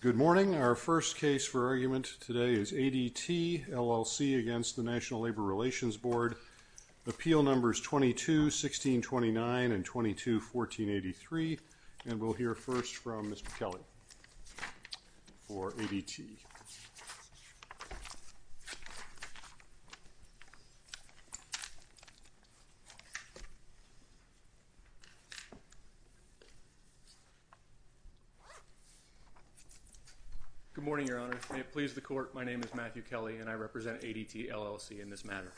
Good morning. Our first case for argument today is ADT, LLC v. NLRB. Appeal numbers Good morning, Your Honor. May it please the Court, my name is Matthew Kelly, and I represent ADT, LLC in this matter.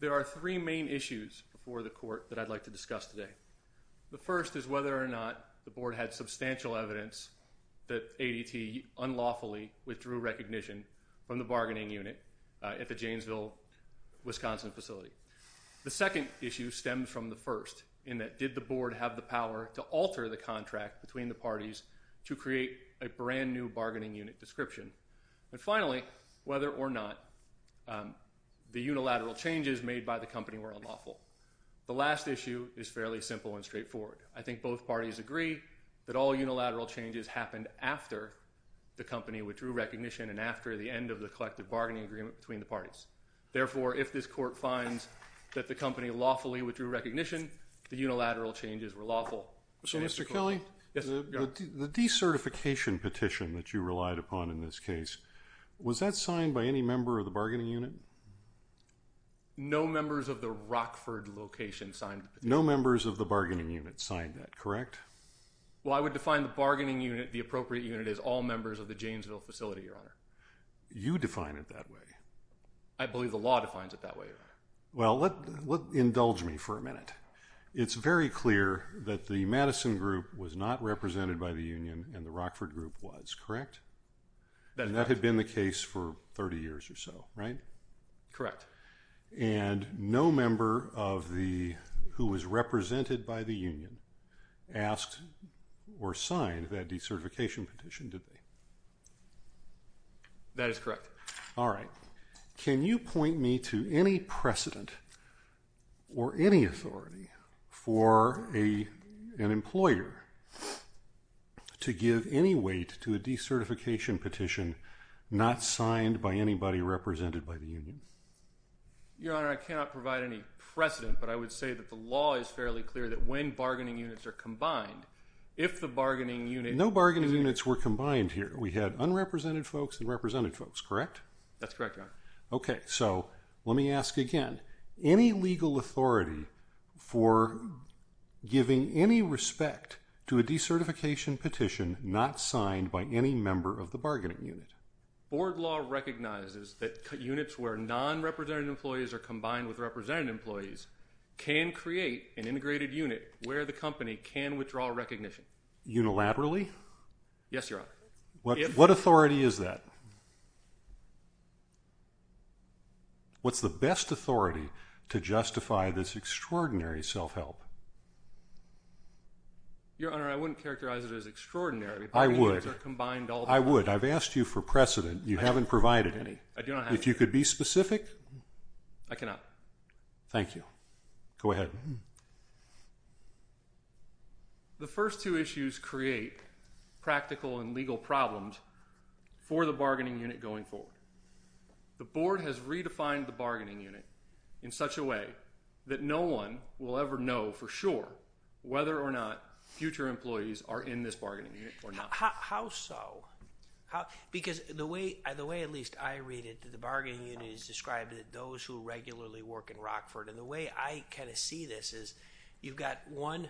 There are three main issues before the Court that I'd like to discuss today. The first is whether or not the Board had substantial evidence that ADT unlawfully withdrew recognition from the bargaining unit at the Janesville, Wisconsin facility. The second issue stems from the first, in that did the Board have the power to alter the contract between the parties to create a brand new bargaining unit description. And finally, whether or not the unilateral changes made by the company were unlawful. The last issue is fairly simple and straightforward. I think both parties agree that all unilateral changes happened after the company withdrew recognition and after the end of the collective bargaining agreement between the parties. Therefore, if this Court finds that the company lawfully withdrew recognition, the unilateral changes were lawful. So, Mr. Kelly, the decertification petition that you relied upon in this case, was that signed by any member of the bargaining unit? No members of the Rockford location signed the petition. No members of the bargaining unit signed that, correct? Well, I would define the bargaining unit, the appropriate unit, as all members of the Janesville facility, Your Honor. You define it that way. I believe the law defines it that way, Your Honor. Well, indulge me for a minute. It's very clear that the Madison group was not represented by the union and the Rockford group was, correct? That had been the case for 30 years or so, right? Correct. And no member of the, who was represented by the union, asked or signed that decertification petition, did they? That is correct. All right. Can you point me to any precedent or any authority for an employer to give any weight to a decertification petition not signed by anybody represented by the union? Your Honor, I cannot provide any precedent, but I would say that the law is fairly clear that when bargaining units are combined, if the bargaining unit… And no bargaining units were combined here. We had unrepresented folks and represented folks, correct? That's correct, Your Honor. Okay. So, let me ask again. Any legal authority for giving any respect to a decertification petition not signed by any member of the bargaining unit? Board law recognizes that units where non-represented employees are combined with represented employees can create an integrated unit where the company can withdraw recognition. Unilaterally? Yes, Your Honor. What authority is that? What's the best authority to justify this extraordinary self-help? Your Honor, I wouldn't characterize it as extraordinary. I would. Bargaining units are combined all the time. I would. I've asked you for precedent. You haven't provided any. I do not have any. If you could be specific? I cannot. Thank you. Go ahead. The first two issues create practical and legal problems for the bargaining unit going forward. The board has redefined the bargaining unit in such a way that no one will ever know for sure whether or not future employees are in this bargaining unit or not. How so? Because the way at least I read it, the bargaining unit is described as those who regularly work in Rockford. And the way I kind of see this is you've got one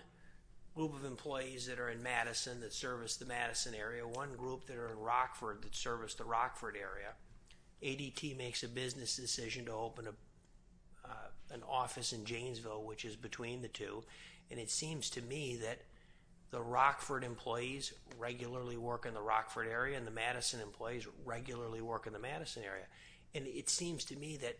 group of employees that are in Madison that service the Madison area, one group that are in Rockford that service the Rockford area. ADT makes a business decision to open an office in Janesville, which is between the two. And it seems to me that the Rockford employees regularly work in the Rockford area and the Madison employees regularly work in the Madison area. And it seems to me that,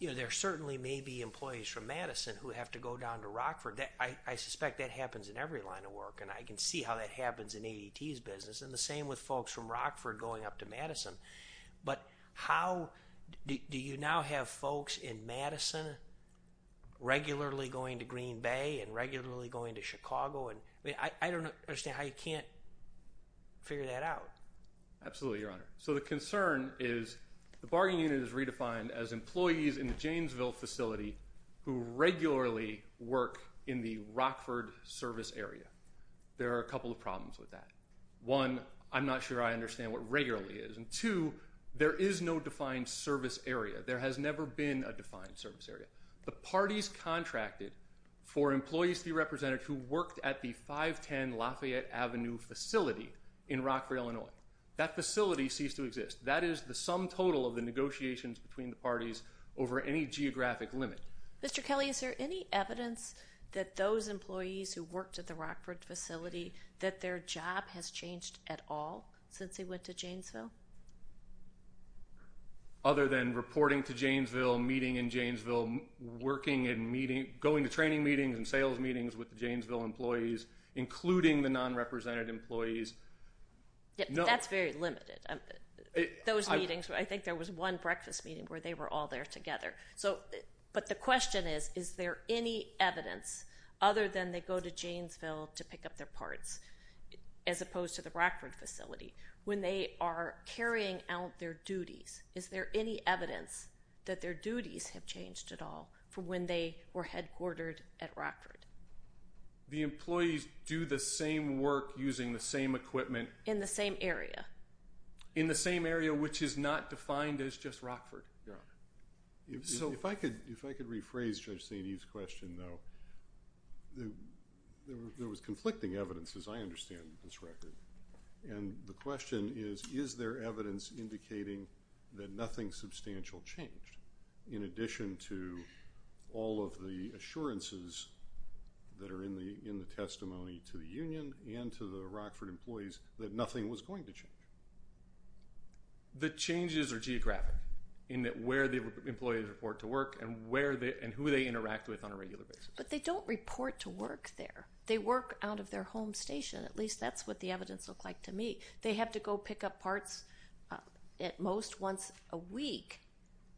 you know, there certainly may be employees from Madison who have to go down to Rockford. I suspect that happens in every line of work, and I can see how that happens in ADT's business. And the same with folks from Rockford going up to Madison. But how do you now have folks in Madison regularly going to Green Bay and regularly going to Chicago? I mean, I don't understand how you can't figure that out. Absolutely, Your Honor. So the concern is the bargaining unit is redefined as employees in the Janesville facility who regularly work in the Rockford service area. There are a couple of problems with that. One, I'm not sure I understand what regularly is. And two, there is no defined service area. There has never been a defined service area. The parties contracted for employees to be represented who worked at the 510 Lafayette Avenue facility in Rockford, Illinois. That facility ceased to exist. That is the sum total of the negotiations between the parties over any geographic limit. Mr. Kelly, is there any evidence that those employees who worked at the Rockford facility, that their job has changed at all since they went to Janesville? Other than reporting to Janesville, meeting in Janesville, working and meeting, going to training meetings and sales meetings with the Janesville employees, including the non-represented employees. That's very limited. Those meetings, I think there was one breakfast meeting where they were all there together. But the question is, is there any evidence, other than they go to Janesville to pick up their parts, as opposed to the Rockford facility, when they are carrying out their duties, is there any evidence that their duties have changed at all from when they were headquartered at Rockford? The employees do the same work using the same equipment. In the same area. In the same area, which is not defined as just Rockford, Your Honor. If I could rephrase Judge St. Eve's question, though. There was conflicting evidence, as I understand this record. And the question is, is there evidence indicating that nothing substantial changed, in addition to all of the assurances that are in the testimony to the union and to the Rockford employees that nothing was going to change? The changes are geographic in that where the employees report to work and who they interact with on a regular basis. But they don't report to work there. They work out of their home station. At least that's what the evidence looked like to me. They have to go pick up parts at most once a week.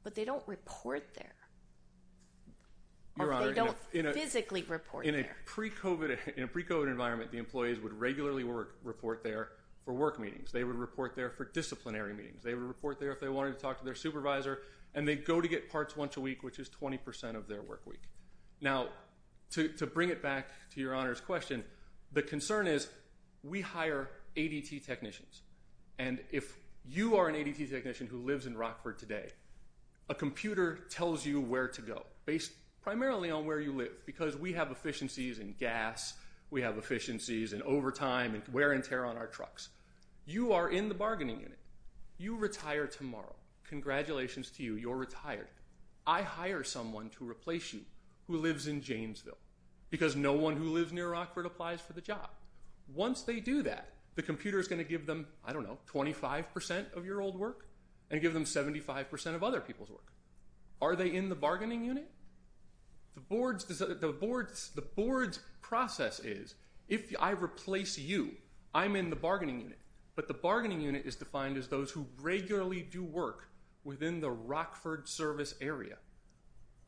But they don't report there. Or they don't physically report there. In a pre-COVID environment, the employees would regularly report there for work meetings. They would report there for disciplinary meetings. They would report there if they wanted to talk to their supervisor. And they'd go to get parts once a week, which is 20% of their work week. Now, to bring it back to Your Honor's question, the concern is we hire ADT technicians. And if you are an ADT technician who lives in Rockford today, a computer tells you where to go, based primarily on where you live because we have efficiencies in gas. We have efficiencies in overtime and wear and tear on our trucks. You are in the bargaining unit. You retire tomorrow. Congratulations to you. You're retired. I hire someone to replace you who lives in Janesville because no one who lives near Rockford applies for the job. Once they do that, the computer is going to give them, I don't know, 25% of your old work and give them 75% of other people's work. Are they in the bargaining unit? The board's process is if I replace you, I'm in the bargaining unit. But the bargaining unit is defined as those who regularly do work within the Rockford service area.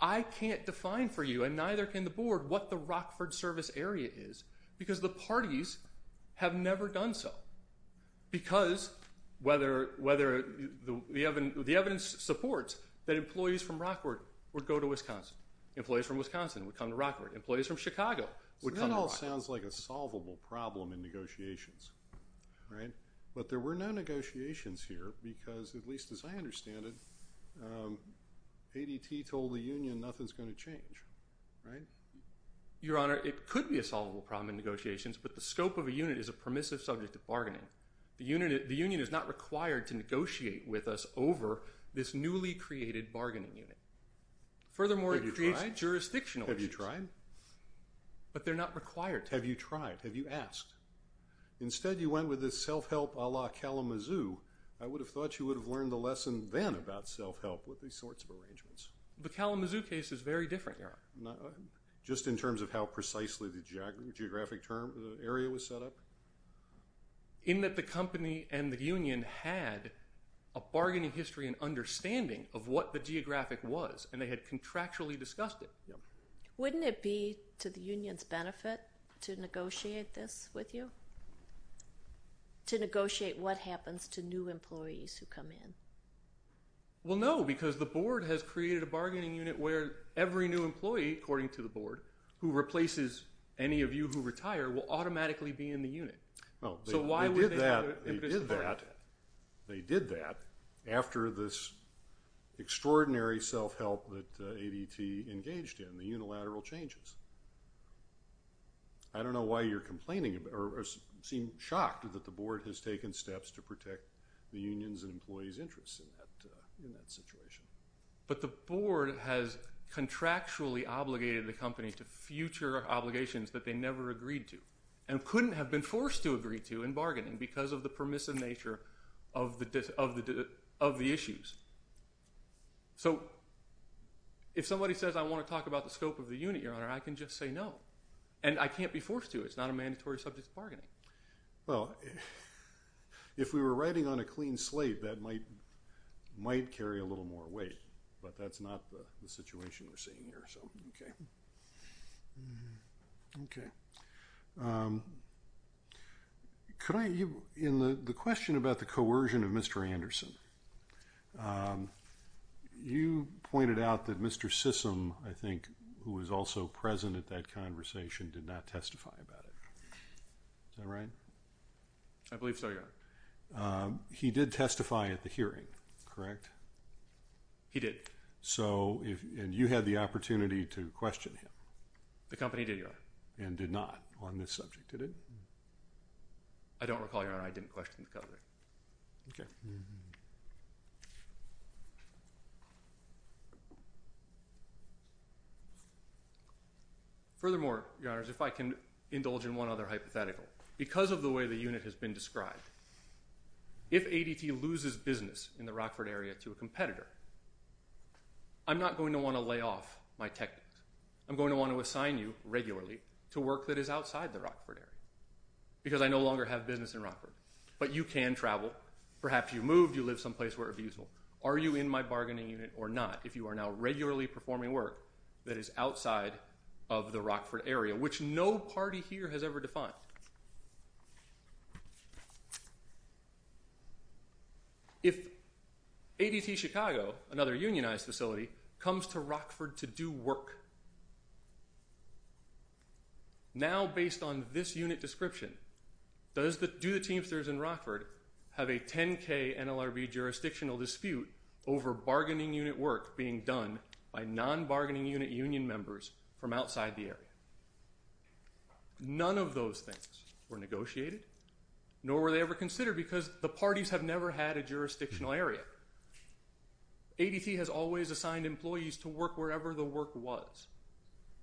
I can't define for you, and neither can the board, what the Rockford service area is because the parties have never done so. Because the evidence supports that employees from Rockford would go to Wisconsin. Employees from Wisconsin would come to Rockford. Employees from Chicago would come to Rockford. That all sounds like a solvable problem in negotiations, right? But there were no negotiations here because, at least as I understand it, ADT told the union nothing's going to change, right? Your Honor, it could be a solvable problem in negotiations, but the scope of a unit is a permissive subject of bargaining. The union is not required to negotiate with us over this newly created bargaining unit. Furthermore, it creates jurisdictional issues. Have you tried? But they're not required to. Have you tried? Have you asked? Instead, you went with this self-help a la Kalamazoo. I would have thought you would have learned the lesson then about self-help with these sorts of arrangements. The Kalamazoo case is very different, Your Honor. Just in terms of how precisely the geographic area was set up? In that the company and the union had a bargaining history and understanding of what the geographic was, and they had contractually discussed it. Wouldn't it be to the union's benefit to negotiate this with you? To negotiate what happens to new employees who come in? Well, no, because the board has created a bargaining unit where every new employee, according to the board, who replaces any of you who retire will automatically be in the unit. Well, they did that after this extraordinary self-help that ADT engaged in, the unilateral changes. I don't know why you're complaining or seem shocked that the board has taken steps to protect the union's and employees' interests in that situation. But the board has contractually obligated the company to future obligations that they never agreed to and couldn't have been forced to agree to in bargaining because of the permissive nature of the issues. So if somebody says, I want to talk about the scope of the unit, Your Honor, I can just say no, and I can't be forced to. It's not a mandatory subject of bargaining. Well, if we were riding on a clean slate, that might carry a little more weight, but that's not the situation we're seeing here, so okay. Okay. In the question about the coercion of Mr. Anderson, you pointed out that Mr. Sissom, I think, who was also present at that conversation, did not testify about it. Is that right? I believe so, Your Honor. He did testify at the hearing, correct? He did. And you had the opportunity to question him? The company did, Your Honor. And did not on this subject, did it? I don't recall, Your Honor, I didn't question the company. Okay. Furthermore, Your Honor, if I can indulge in one other hypothetical. Because of the way the unit has been described, if ADT loses business in the Rockford area to a competitor, I'm not going to want to lay off my techniques. I'm going to want to assign you regularly to work that is outside the Rockford area because I no longer have business in Rockford. But you can travel. Perhaps you moved, you live someplace where it would be useful. Are you in my bargaining unit or not if you are now regularly performing work that is outside of the Rockford area, which no party here has ever defined? If ADT Chicago, another unionized facility, comes to Rockford to do work, now based on this unit description, do the teamsters in Rockford have a 10K NLRB jurisdictional dispute over bargaining unit work being done by non-bargaining unit union members from outside the area? None of those things were negotiated, nor were they ever considered because the parties have never had a jurisdictional area. ADT has always assigned employees to work wherever the work was.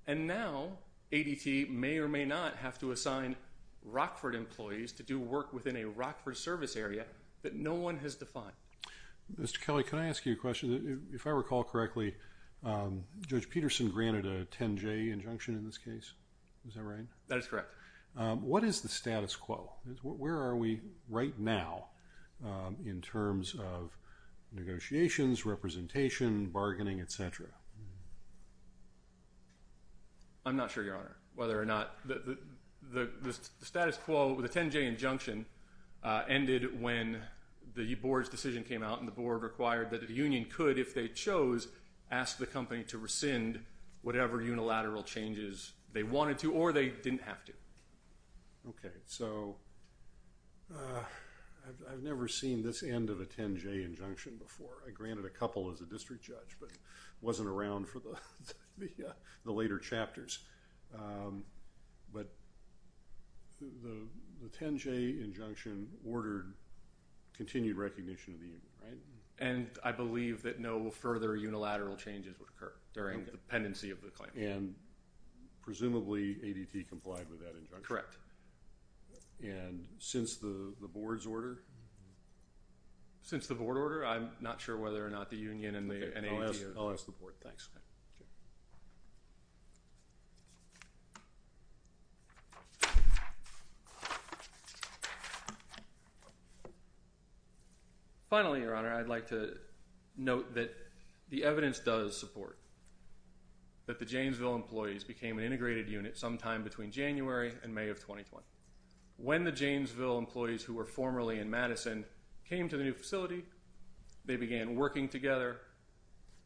And now ADT may or may not have to assign Rockford employees to do work within a Rockford service area that no one has defined. Mr. Kelly, can I ask you a question? If I recall correctly, Judge Peterson granted a 10J injunction in this case. Is that right? That is correct. What is the status quo? Where are we right now in terms of negotiations, representation, bargaining, et cetera? I'm not sure, Your Honor, whether or not the status quo, the 10J injunction, ended when the board's decision came out and the board required that the union could, if they chose, ask the company to rescind whatever unilateral changes they wanted to or they didn't have to. Okay, so I've never seen this end of a 10J injunction before. I granted a couple as a district judge but wasn't around for the later chapters. But the 10J injunction ordered continued recognition of the union, right? And I believe that no further unilateral changes would occur during the pendency of the claim. And presumably ADT complied with that injunction? Correct. And since the board's order? Since the board order, I'm not sure whether or not the union and ADT are involved. I'll ask the board. Thanks. Okay. Finally, Your Honor, I'd like to note that the evidence does support that the Janesville employees became an integrated unit sometime between January and May of 2020. When the Janesville employees who were formerly in Madison came to the new facility, they began working together,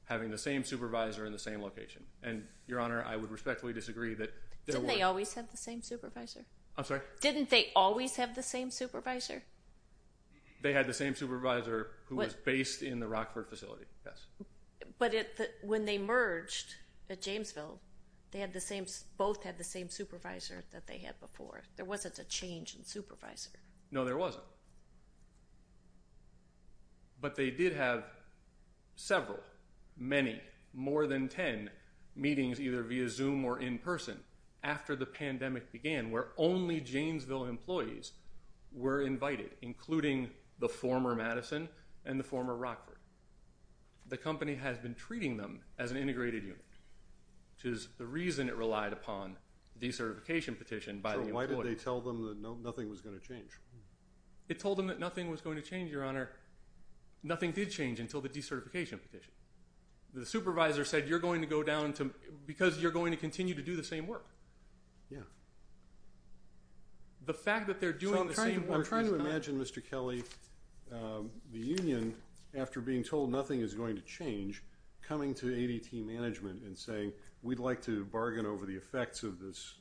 having the same supervisor in the same location. And, Your Honor, I would respectfully disagree that their work… Didn't they always have the same supervisor? I'm sorry? Didn't they always have the same supervisor? They had the same supervisor who was based in the Rockford facility, yes. But when they merged at Janesville, they had the same…both had the same supervisor that they had before. There wasn't a change in supervisor. No, there wasn't. But they did have several, many, more than 10 meetings either via Zoom or in person after the pandemic began where only Janesville employees were invited, including the former Madison and the former Rockford. The company has been treating them as an integrated unit, which is the reason it relied upon the decertification petition by the employees. So, why did they tell them that nothing was going to change? It told them that nothing was going to change, Your Honor. Nothing did change until the decertification petition. The supervisor said, you're going to go down to…because you're going to continue to do the same work. Yeah. The fact that they're doing the same work… I'm trying to imagine, Mr. Kelly, the union, after being told nothing is going to change, coming to ADT management and saying, we'd like to bargain over the effects of this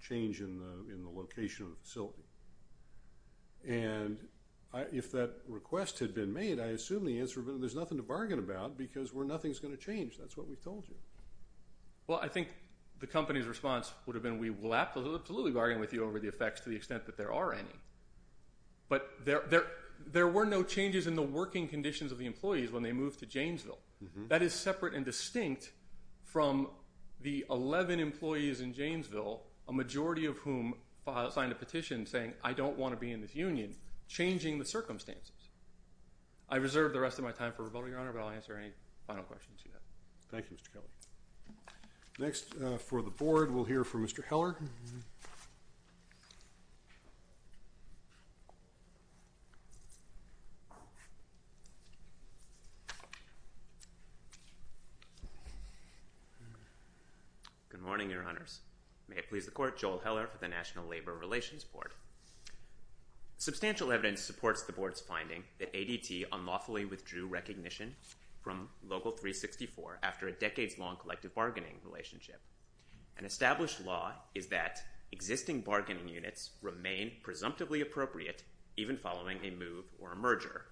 change in the location of the facility. And if that request had been made, I assume the answer would have been, there's nothing to bargain about because nothing's going to change. That's what we've told you. Well, I think the company's response would have been, we will absolutely bargain with you over the effects to the extent that there are any. But there were no changes in the working conditions of the employees when they moved to Janesville. That is separate and distinct from the 11 employees in Janesville, a majority of whom signed a petition saying, I don't want to be in this union, changing the circumstances. I reserve the rest of my time for rebuttal, Your Honor, but I'll answer any final questions you have. Thank you, Mr. Kelly. Next, for the Board, we'll hear from Mr. Heller. Good morning, Your Honors. May it please the Court, Joel Heller for the National Labor Relations Board. Substantial evidence supports the Board's finding that ADT unlawfully withdrew recognition from Local 364 after a decades-long collective bargaining relationship. An established law is that existing bargaining units remain presumptively appropriate even following a move or a merger.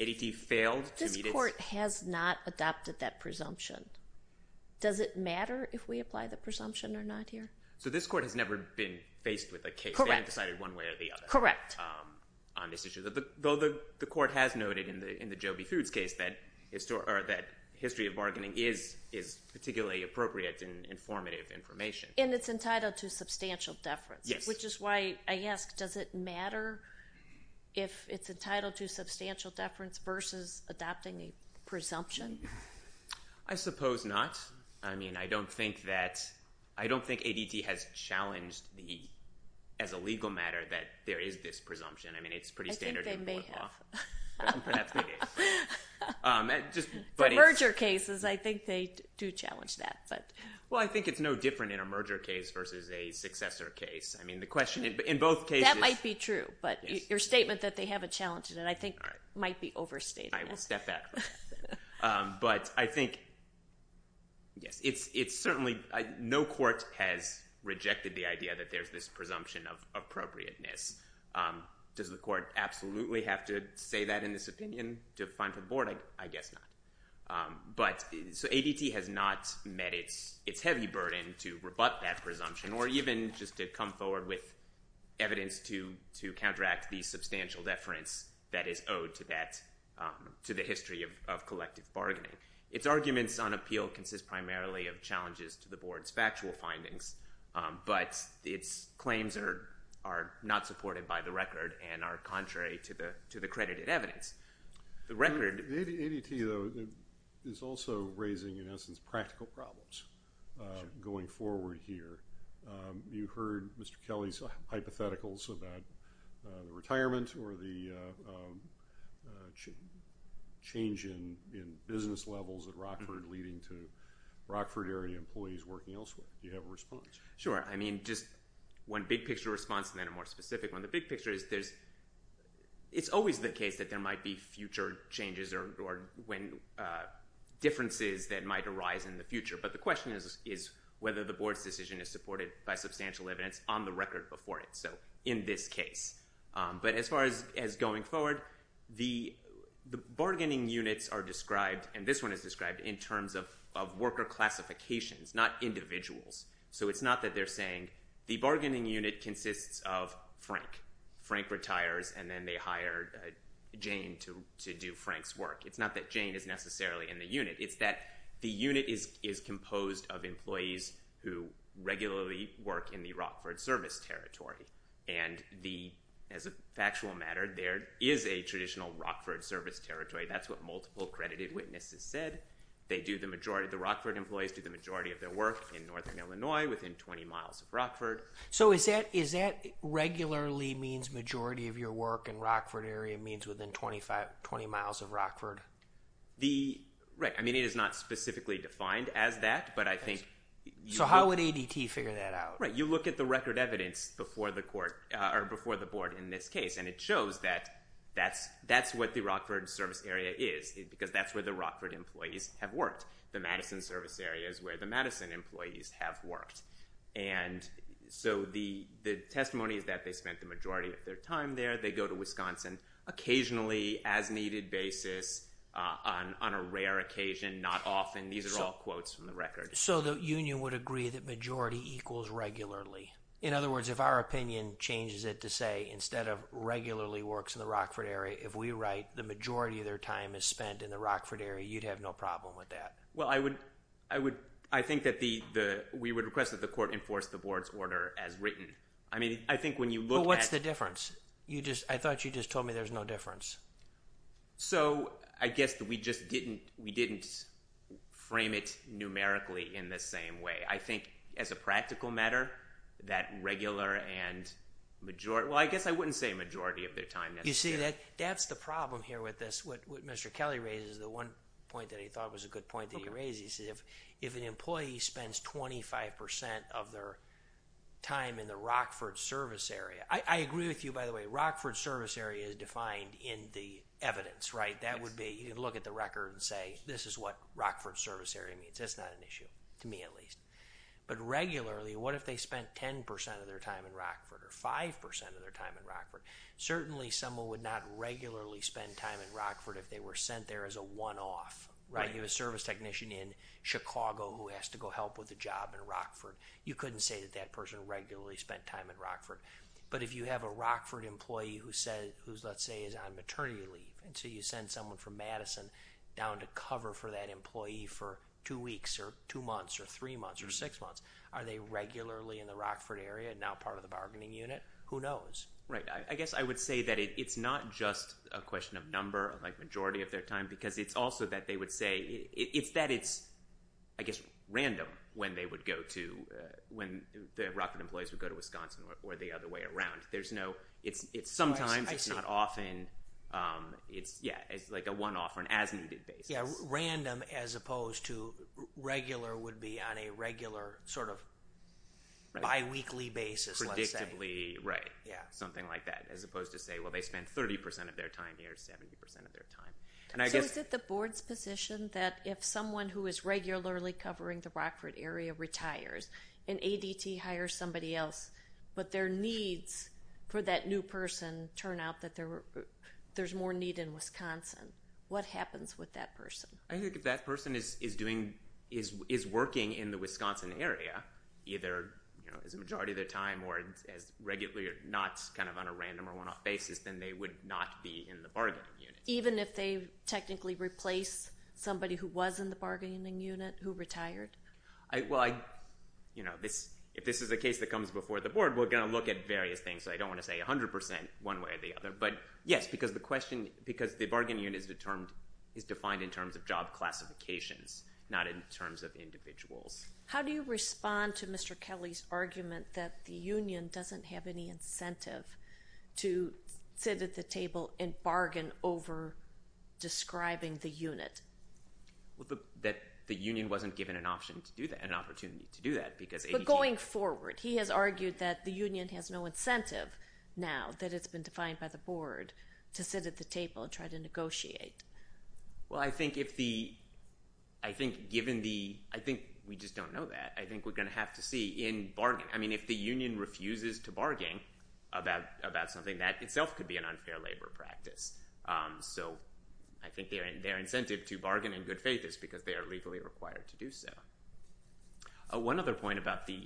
ADT failed to meet its... This Court has not adopted that presumption. Does it matter if we apply the presumption or not here? So this Court has never been faced with a case. They haven't decided one way or the other on this issue. Though the Court has noted in the Joby Foods case that history of bargaining is particularly appropriate and informative information. And it's entitled to substantial deference, which is why I ask, does it matter if it's entitled to substantial deference versus adopting a presumption? I suppose not. I mean, I don't think that... I don't think ADT has challenged the... as a legal matter that there is this presumption. I mean, it's pretty standard in board law. I think they may have. That's what I'm thinking. For merger cases, I think they do challenge that, but... Well, I think it's no different in a merger case versus a successor case. I mean, the question in both cases... That might be true, but your statement that they haven't challenged it, I think, might be overstating it. I will step back. But I think... Yes, it's certainly... No court has rejected the idea that there's this presumption of appropriateness. Does the Court absolutely have to say that in this opinion to find for the board? I guess not. But... So ADT has not met its heavy burden to rebut that presumption or even just to come forward with evidence to counteract the substantial deference that is owed to that... of collective bargaining. Its arguments on appeal consist primarily of challenges to the board's factual findings, but its claims are not supported by the record and are contrary to the credited evidence. The record... ADT, though, is also raising, in essence, practical problems going forward here. You heard Mr. Kelly's hypotheticals about the retirement or the change in business levels at Rockford leading to Rockford area employees working elsewhere. Do you have a response? Sure. I mean, just one big picture response and then a more specific one. The big picture is there's... It's always the case that there might be future changes or differences that might arise in the future. But the question is whether the board's decision is supported by substantial evidence on the record before it, so in this case. But as far as going forward, the bargaining units are described, and this one is described, in terms of worker classifications, not individuals. So it's not that they're saying the bargaining unit consists of Frank. Frank retires and then they hire Jane to do Frank's work. It's not that Jane is necessarily in the unit. It's that the unit is composed of employees who regularly work in the Rockford Service Territory. And as a factual matter, there is a traditional Rockford Service Territory. That's what multiple credited witnesses said. They do the majority... The Rockford employees do the majority of their work in Northern Illinois within 20 miles of Rockford. So is that... Regularly means majority of your work in Rockford area means within 20 miles of Rockford? The... Right. I mean, it is not specifically defined as that, but I think... So how would ADT figure that out? Right. You look at the record evidence before the court or before the board in this case, and it shows that that's what the Rockford Service Area is because that's where the Rockford employees have worked. The Madison Service Area is where the Madison employees have worked. And so the testimony is that they spent the majority of their time there. They go to Wisconsin occasionally as needed basis on a rare occasion, not often. These are all quotes from the record. So the union would agree that majority equals regularly. In other words, if our opinion changes it to say instead of regularly works in the Rockford area, if we write the majority of their time is spent in the Rockford area, you'd have no problem with that. Well, I would... I would... I think that the... We would request that the court enforce the board's order as written. I mean, I think when you look at... But what's the difference? You just... I thought you just told me there's no difference. So I guess that we just didn't... We didn't frame it numerically in the same way. I think as a practical matter, that regular and majority... Well, I guess I wouldn't say majority of their time necessarily. You see, that's the problem here with this. What Mr. Kelly raises, the one point that he thought was a good point that he raised, he said if an employee spends 25% of their time in the Rockford Service Area... I agree with you, by the way. Rockford Service Area is defined in the evidence, right? That would be... You can look at the record and say this is what Rockford Service Area means. That's not an issue, to me at least. But regularly, what if they spent 10% of their time in Rockford or 5% of their time in Rockford? Certainly, someone would not regularly spend time in Rockford if they were sent there as a one-off, right? You have a service technician in Chicago who has to go help with a job in Rockford. You couldn't say that that person regularly spent time in Rockford. But if you have a Rockford employee who, let's say, is on maternity leave and so you send someone from Madison down to cover for that employee for two weeks or two months or three months or six months, are they regularly in the Rockford area and now part of the bargaining unit? Who knows? Right. I guess I would say that it's not just a question of number, like majority of their time, because it's also that they would say – it's that it's, I guess, random when they would go to – when the Rockford employees would go to Wisconsin or the other way around. There's no – it's sometimes. I see. It's not often. Yeah, it's like a one-off or an as-needed basis. Yeah, random as opposed to regular would be on a regular sort of biweekly basis, let's say. Predictably, right. Yeah, something like that, as opposed to say, well, they spent 30% of their time here, 70% of their time. So is it the board's position that if someone who is regularly covering the Rockford area retires and ADT hires somebody else, but their needs for that new person turn out that there's more need in Wisconsin? What happens with that person? I think if that person is working in the Wisconsin area either as a majority of their time or as regularly or not kind of on a random or one-off basis, then they would not be in the bargaining unit. Even if they technically replace somebody who was in the bargaining unit who retired? Well, if this is a case that comes before the board, we're going to look at various things, so I don't want to say 100% one way or the other. But yes, because the question – because the bargaining unit is defined in terms of job classifications, not in terms of individuals. How do you respond to Mr. Kelly's argument that the union doesn't have any incentive to sit at the table and bargain over describing the unit? That the union wasn't given an opportunity to do that because ADT – But going forward, he has argued that the union has no incentive now that it's been defined by the board to sit at the table and try to negotiate. Well, I think if the – I think given the – I think we just don't know that. I think we're going to have to see in bargaining. I mean if the union refuses to bargain about something, that itself could be an unfair labor practice. So I think their incentive to bargain in good faith is because they are legally required to do so. One other point about the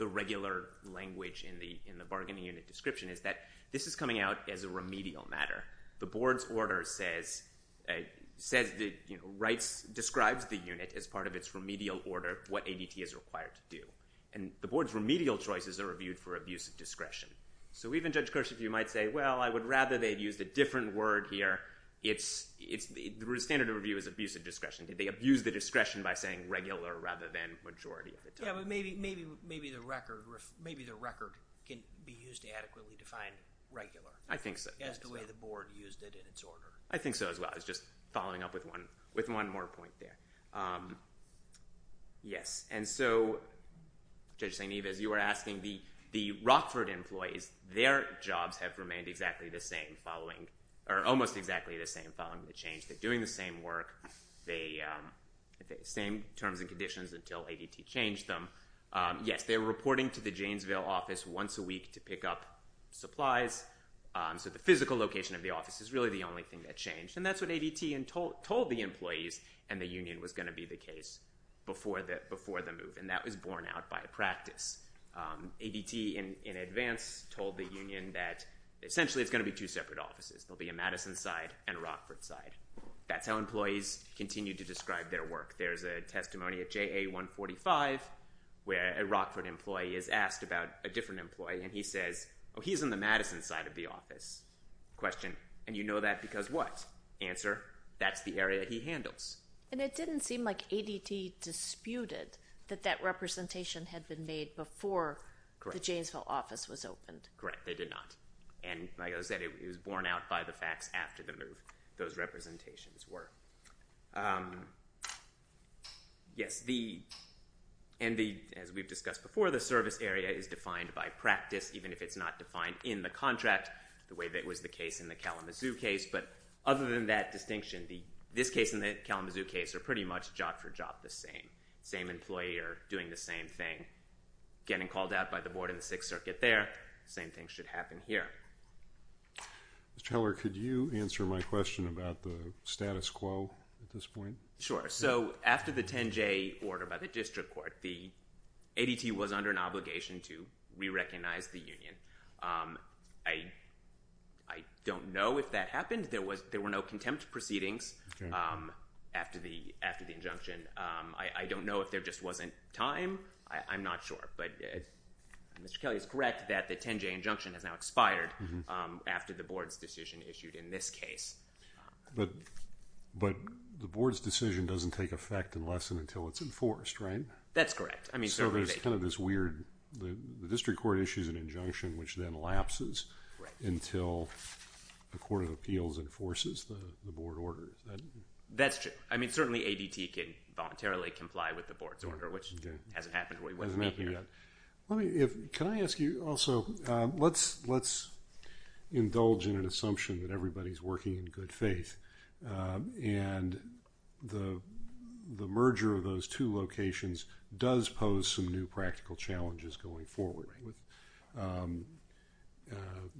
regular language in the bargaining unit description is that this is coming out as a remedial matter. The board's order says – describes the unit as part of its remedial order of what ADT is required to do. And the board's remedial choices are reviewed for abuse of discretion. So even Judge Kersh, if you might say, well, I would rather they've used a different word here. The standard of review is abuse of discretion. Did they abuse the discretion by saying regular rather than majority of the time? Yeah, but maybe the record can be used to adequately define regular. I think so as well. As the way the board used it in its order. I think so as well. I was just following up with one more point there. Yes, and so Judge St. Ives, you were asking the Rockford employees. Their jobs have remained exactly the same following – or almost exactly the same following the change. They're doing the same work, the same terms and conditions until ADT changed them. Yes, they're reporting to the Janesville office once a week to pick up supplies. So the physical location of the office is really the only thing that changed. And that's what ADT told the employees and the union was going to be the case before the move, and that was borne out by practice. ADT in advance told the union that essentially it's going to be two separate offices. There will be a Madison side and a Rockford side. That's how employees continue to describe their work. There's a testimony at JA 145 where a Rockford employee is asked about a different employee, and he says, oh, he's on the Madison side of the office. Question, and you know that because what? Answer, that's the area he handles. And it didn't seem like ADT disputed that that representation had been made before the Janesville office was opened. Correct, they did not. And like I said, it was borne out by the facts after the move, those representations were. Yes, and as we've discussed before, the service area is defined by practice, even if it's not defined in the contract the way that was the case in the Kalamazoo case. But other than that distinction, this case and the Kalamazoo case are pretty much job for job the same. The same employee are doing the same thing, getting called out by the board in the Sixth Circuit there. The same thing should happen here. Mr. Heller, could you answer my question about the status quo at this point? Sure, so after the 10-J order by the district court, the ADT was under an obligation to re-recognize the union. I don't know if that happened. There were no contempt proceedings after the injunction. I don't know if there just wasn't time. I'm not sure, but Mr. Kelly is correct that the 10-J injunction has now expired after the board's decision issued in this case. But the board's decision doesn't take effect unless and until it's enforced, right? That's correct. So there's kind of this weird, the district court issues an injunction which then lapses until the Court of Appeals enforces the board order. That's true. I mean, certainly ADT can voluntarily comply with the board's order, which hasn't happened to me here. Can I ask you also, let's indulge in an assumption that everybody's working in good faith, and the merger of those two locations does pose some new practical challenges going forward with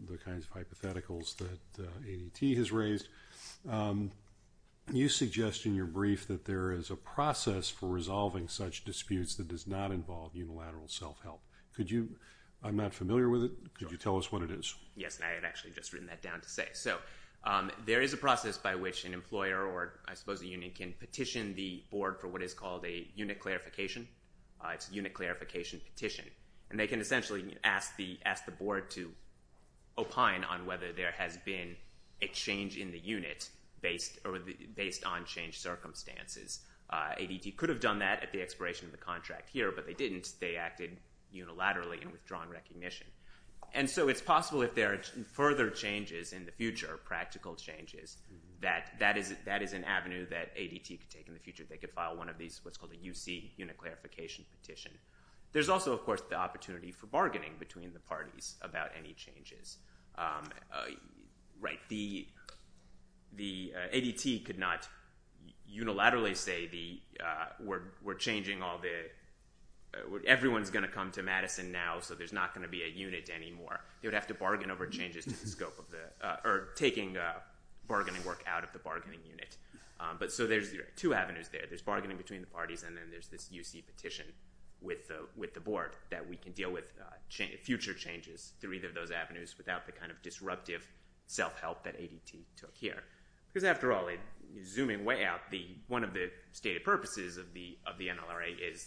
the kinds of hypotheticals that ADT has raised. You suggest in your brief that there is a process for resolving such disputes that does not involve unilateral self-help. I'm not familiar with it. Could you tell us what it is? Yes, and I had actually just written that down to say. So there is a process by which an employer or, I suppose, a union can petition the board for what is called a unit clarification. It's a unit clarification petition. And they can essentially ask the board to opine on whether there has been a change in the unit based on changed circumstances. ADT could have done that at the expiration of the contract here, but they didn't. They acted unilaterally in withdrawn recognition. And so it's possible if there are further changes in the future, practical changes, that that is an avenue that ADT could take in the future. They could file one of these, what's called a UC unit clarification petition. There's also, of course, the opportunity for bargaining between the parties about any changes. Right, the ADT could not unilaterally say we're changing all the – everyone's going to come to Madison now, so there's not going to be a unit anymore. They would have to bargain over changes to the scope of the – or taking bargaining work out of the bargaining unit. So there's two avenues there. There's bargaining between the parties, and then there's this UC petition with the board that we can deal with future changes through either of those avenues without the kind of disruptive self-help that ADT took here. Because after all, zooming way out, one of the stated purposes of the NLRA is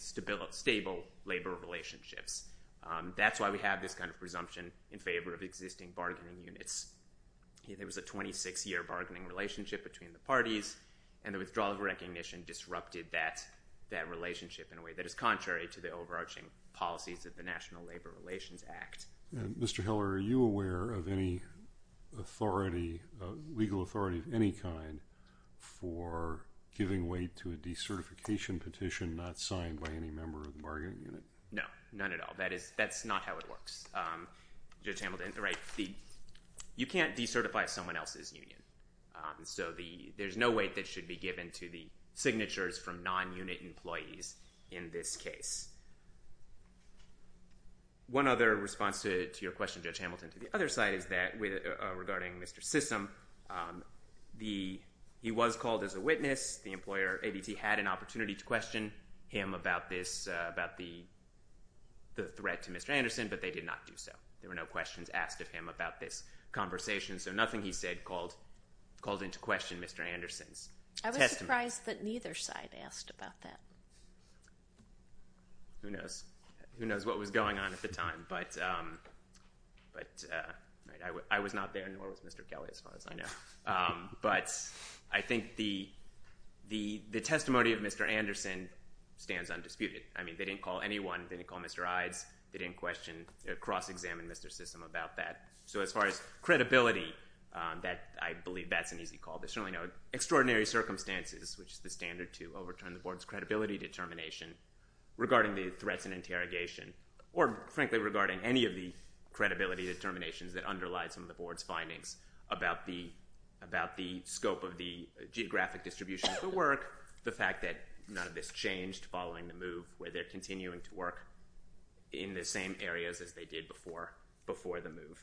stable labor relationships. That's why we have this kind of presumption in favor of existing bargaining units. There was a 26-year bargaining relationship between the parties, and the withdrawal of recognition disrupted that relationship in a way that is contrary to the overarching policies of the National Labor Relations Act. Mr. Heller, are you aware of any authority, legal authority of any kind, for giving way to a decertification petition not signed by any member of the bargaining unit? No, none at all. That's not how it works. Judge Hamilton, right, you can't decertify someone else's union. So there's no weight that should be given to the signatures from non-unit employees in this case. One other response to your question, Judge Hamilton, to the other side is that regarding Mr. Sissom, he was called as a witness. The employer, ADT, had an opportunity to question him about this, about the threat to Mr. Anderson, but they did not do so. There were no questions asked of him about this conversation, so nothing he said called into question Mr. Anderson's testimony. I was surprised that neither side asked about that. Who knows? Who knows what was going on at the time, but I was not there, nor was Mr. Kelly, as far as I know. But I think the testimony of Mr. Anderson stands undisputed. I mean, they didn't call anyone, they didn't call Mr. Ides, they didn't cross-examine Mr. Sissom about that. So as far as credibility, I believe that's an easy call. There certainly are no extraordinary circumstances, which is the standard to overturn the Board's credibility determination, regarding the threats and interrogation, or frankly, regarding any of the credibility determinations that underlie some of the Board's findings about the scope of the geographic distribution of the work, the fact that none of this changed following the move, where they're continuing to work in the same areas as they did before the move.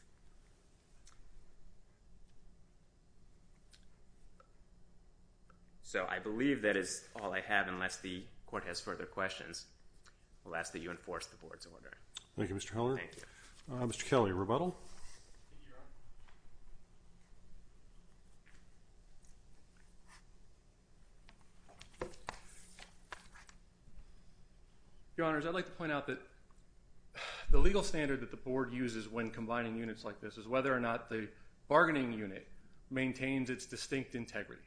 So I believe that is all I have, unless the Court has further questions. I will ask that you enforce the Board's order. Thank you, Mr. Heller. Thank you. Mr. Kelly, rebuttal? Thank you, Your Honor. Your Honors, I'd like to point out that the legal standard that the Board uses when combining units like this is whether or not the bargaining unit maintains its distinct integrity.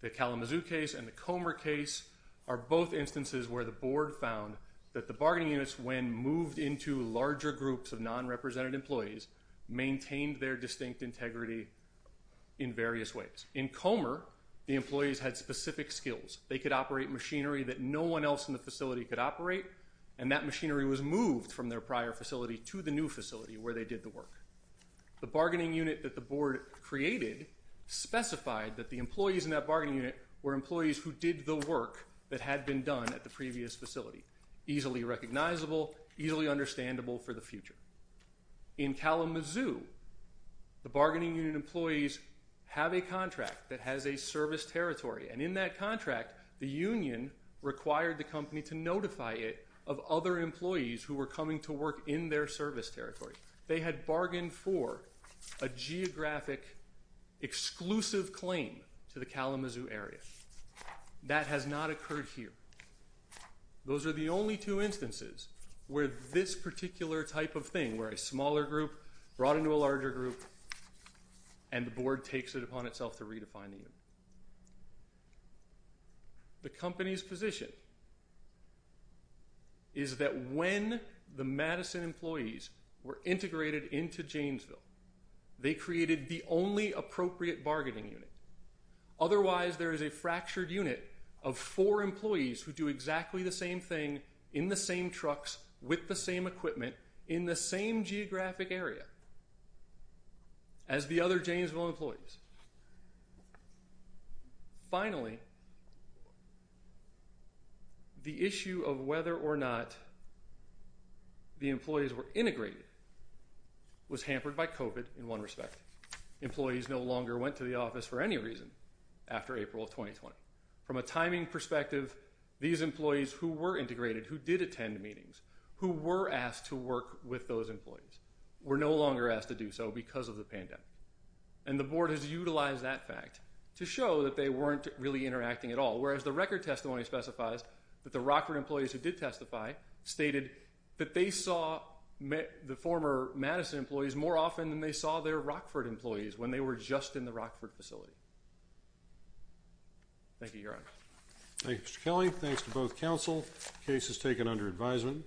The Kalamazoo case and the Comer case are both instances where the Board found that the bargaining units, when moved into larger groups of non-represented employees, maintained their distinct integrity in various ways. In Comer, the employees had specific skills. They could operate machinery that no one else in the facility could operate, and that machinery was moved from their prior facility to the new facility where they did the work. The bargaining unit that the Board created specified that the employees in that bargaining unit were employees who did the work that had been done at the previous facility, easily recognizable, easily understandable for the future. In Kalamazoo, the bargaining unit employees have a contract that has a service territory, and in that contract, the union required the company to notify it of other employees who were coming to work in their service territory. They had bargained for a geographic exclusive claim to the Kalamazoo area. That has not occurred here. Those are the only two instances where this particular type of thing, where a smaller group brought into a larger group, and the Board takes it upon itself to redefine the union. The company's position is that when the Madison employees were integrated into Janesville, they created the only appropriate bargaining unit. Otherwise, there is a fractured unit of four employees who do exactly the same thing, in the same trucks, with the same equipment, in the same geographic area as the other Janesville employees. Finally, the issue of whether or not the employees were integrated was hampered by COVID in one respect. Employees no longer went to the office for any reason after April of 2020. From a timing perspective, these employees who were integrated, who did attend meetings, who were asked to work with those employees, were no longer asked to do so because of the pandemic. And the Board has utilized that fact to show that they weren't really interacting at all, whereas the record testimony specifies that the Rockford employees who did testify stated that they saw the former Madison employees more often than they saw their Rockford employees when they were just in the Rockford facility. Thank you, Your Honor. Thank you, Mr. Kelly. Thanks to both counsel. The case is taken under advisement.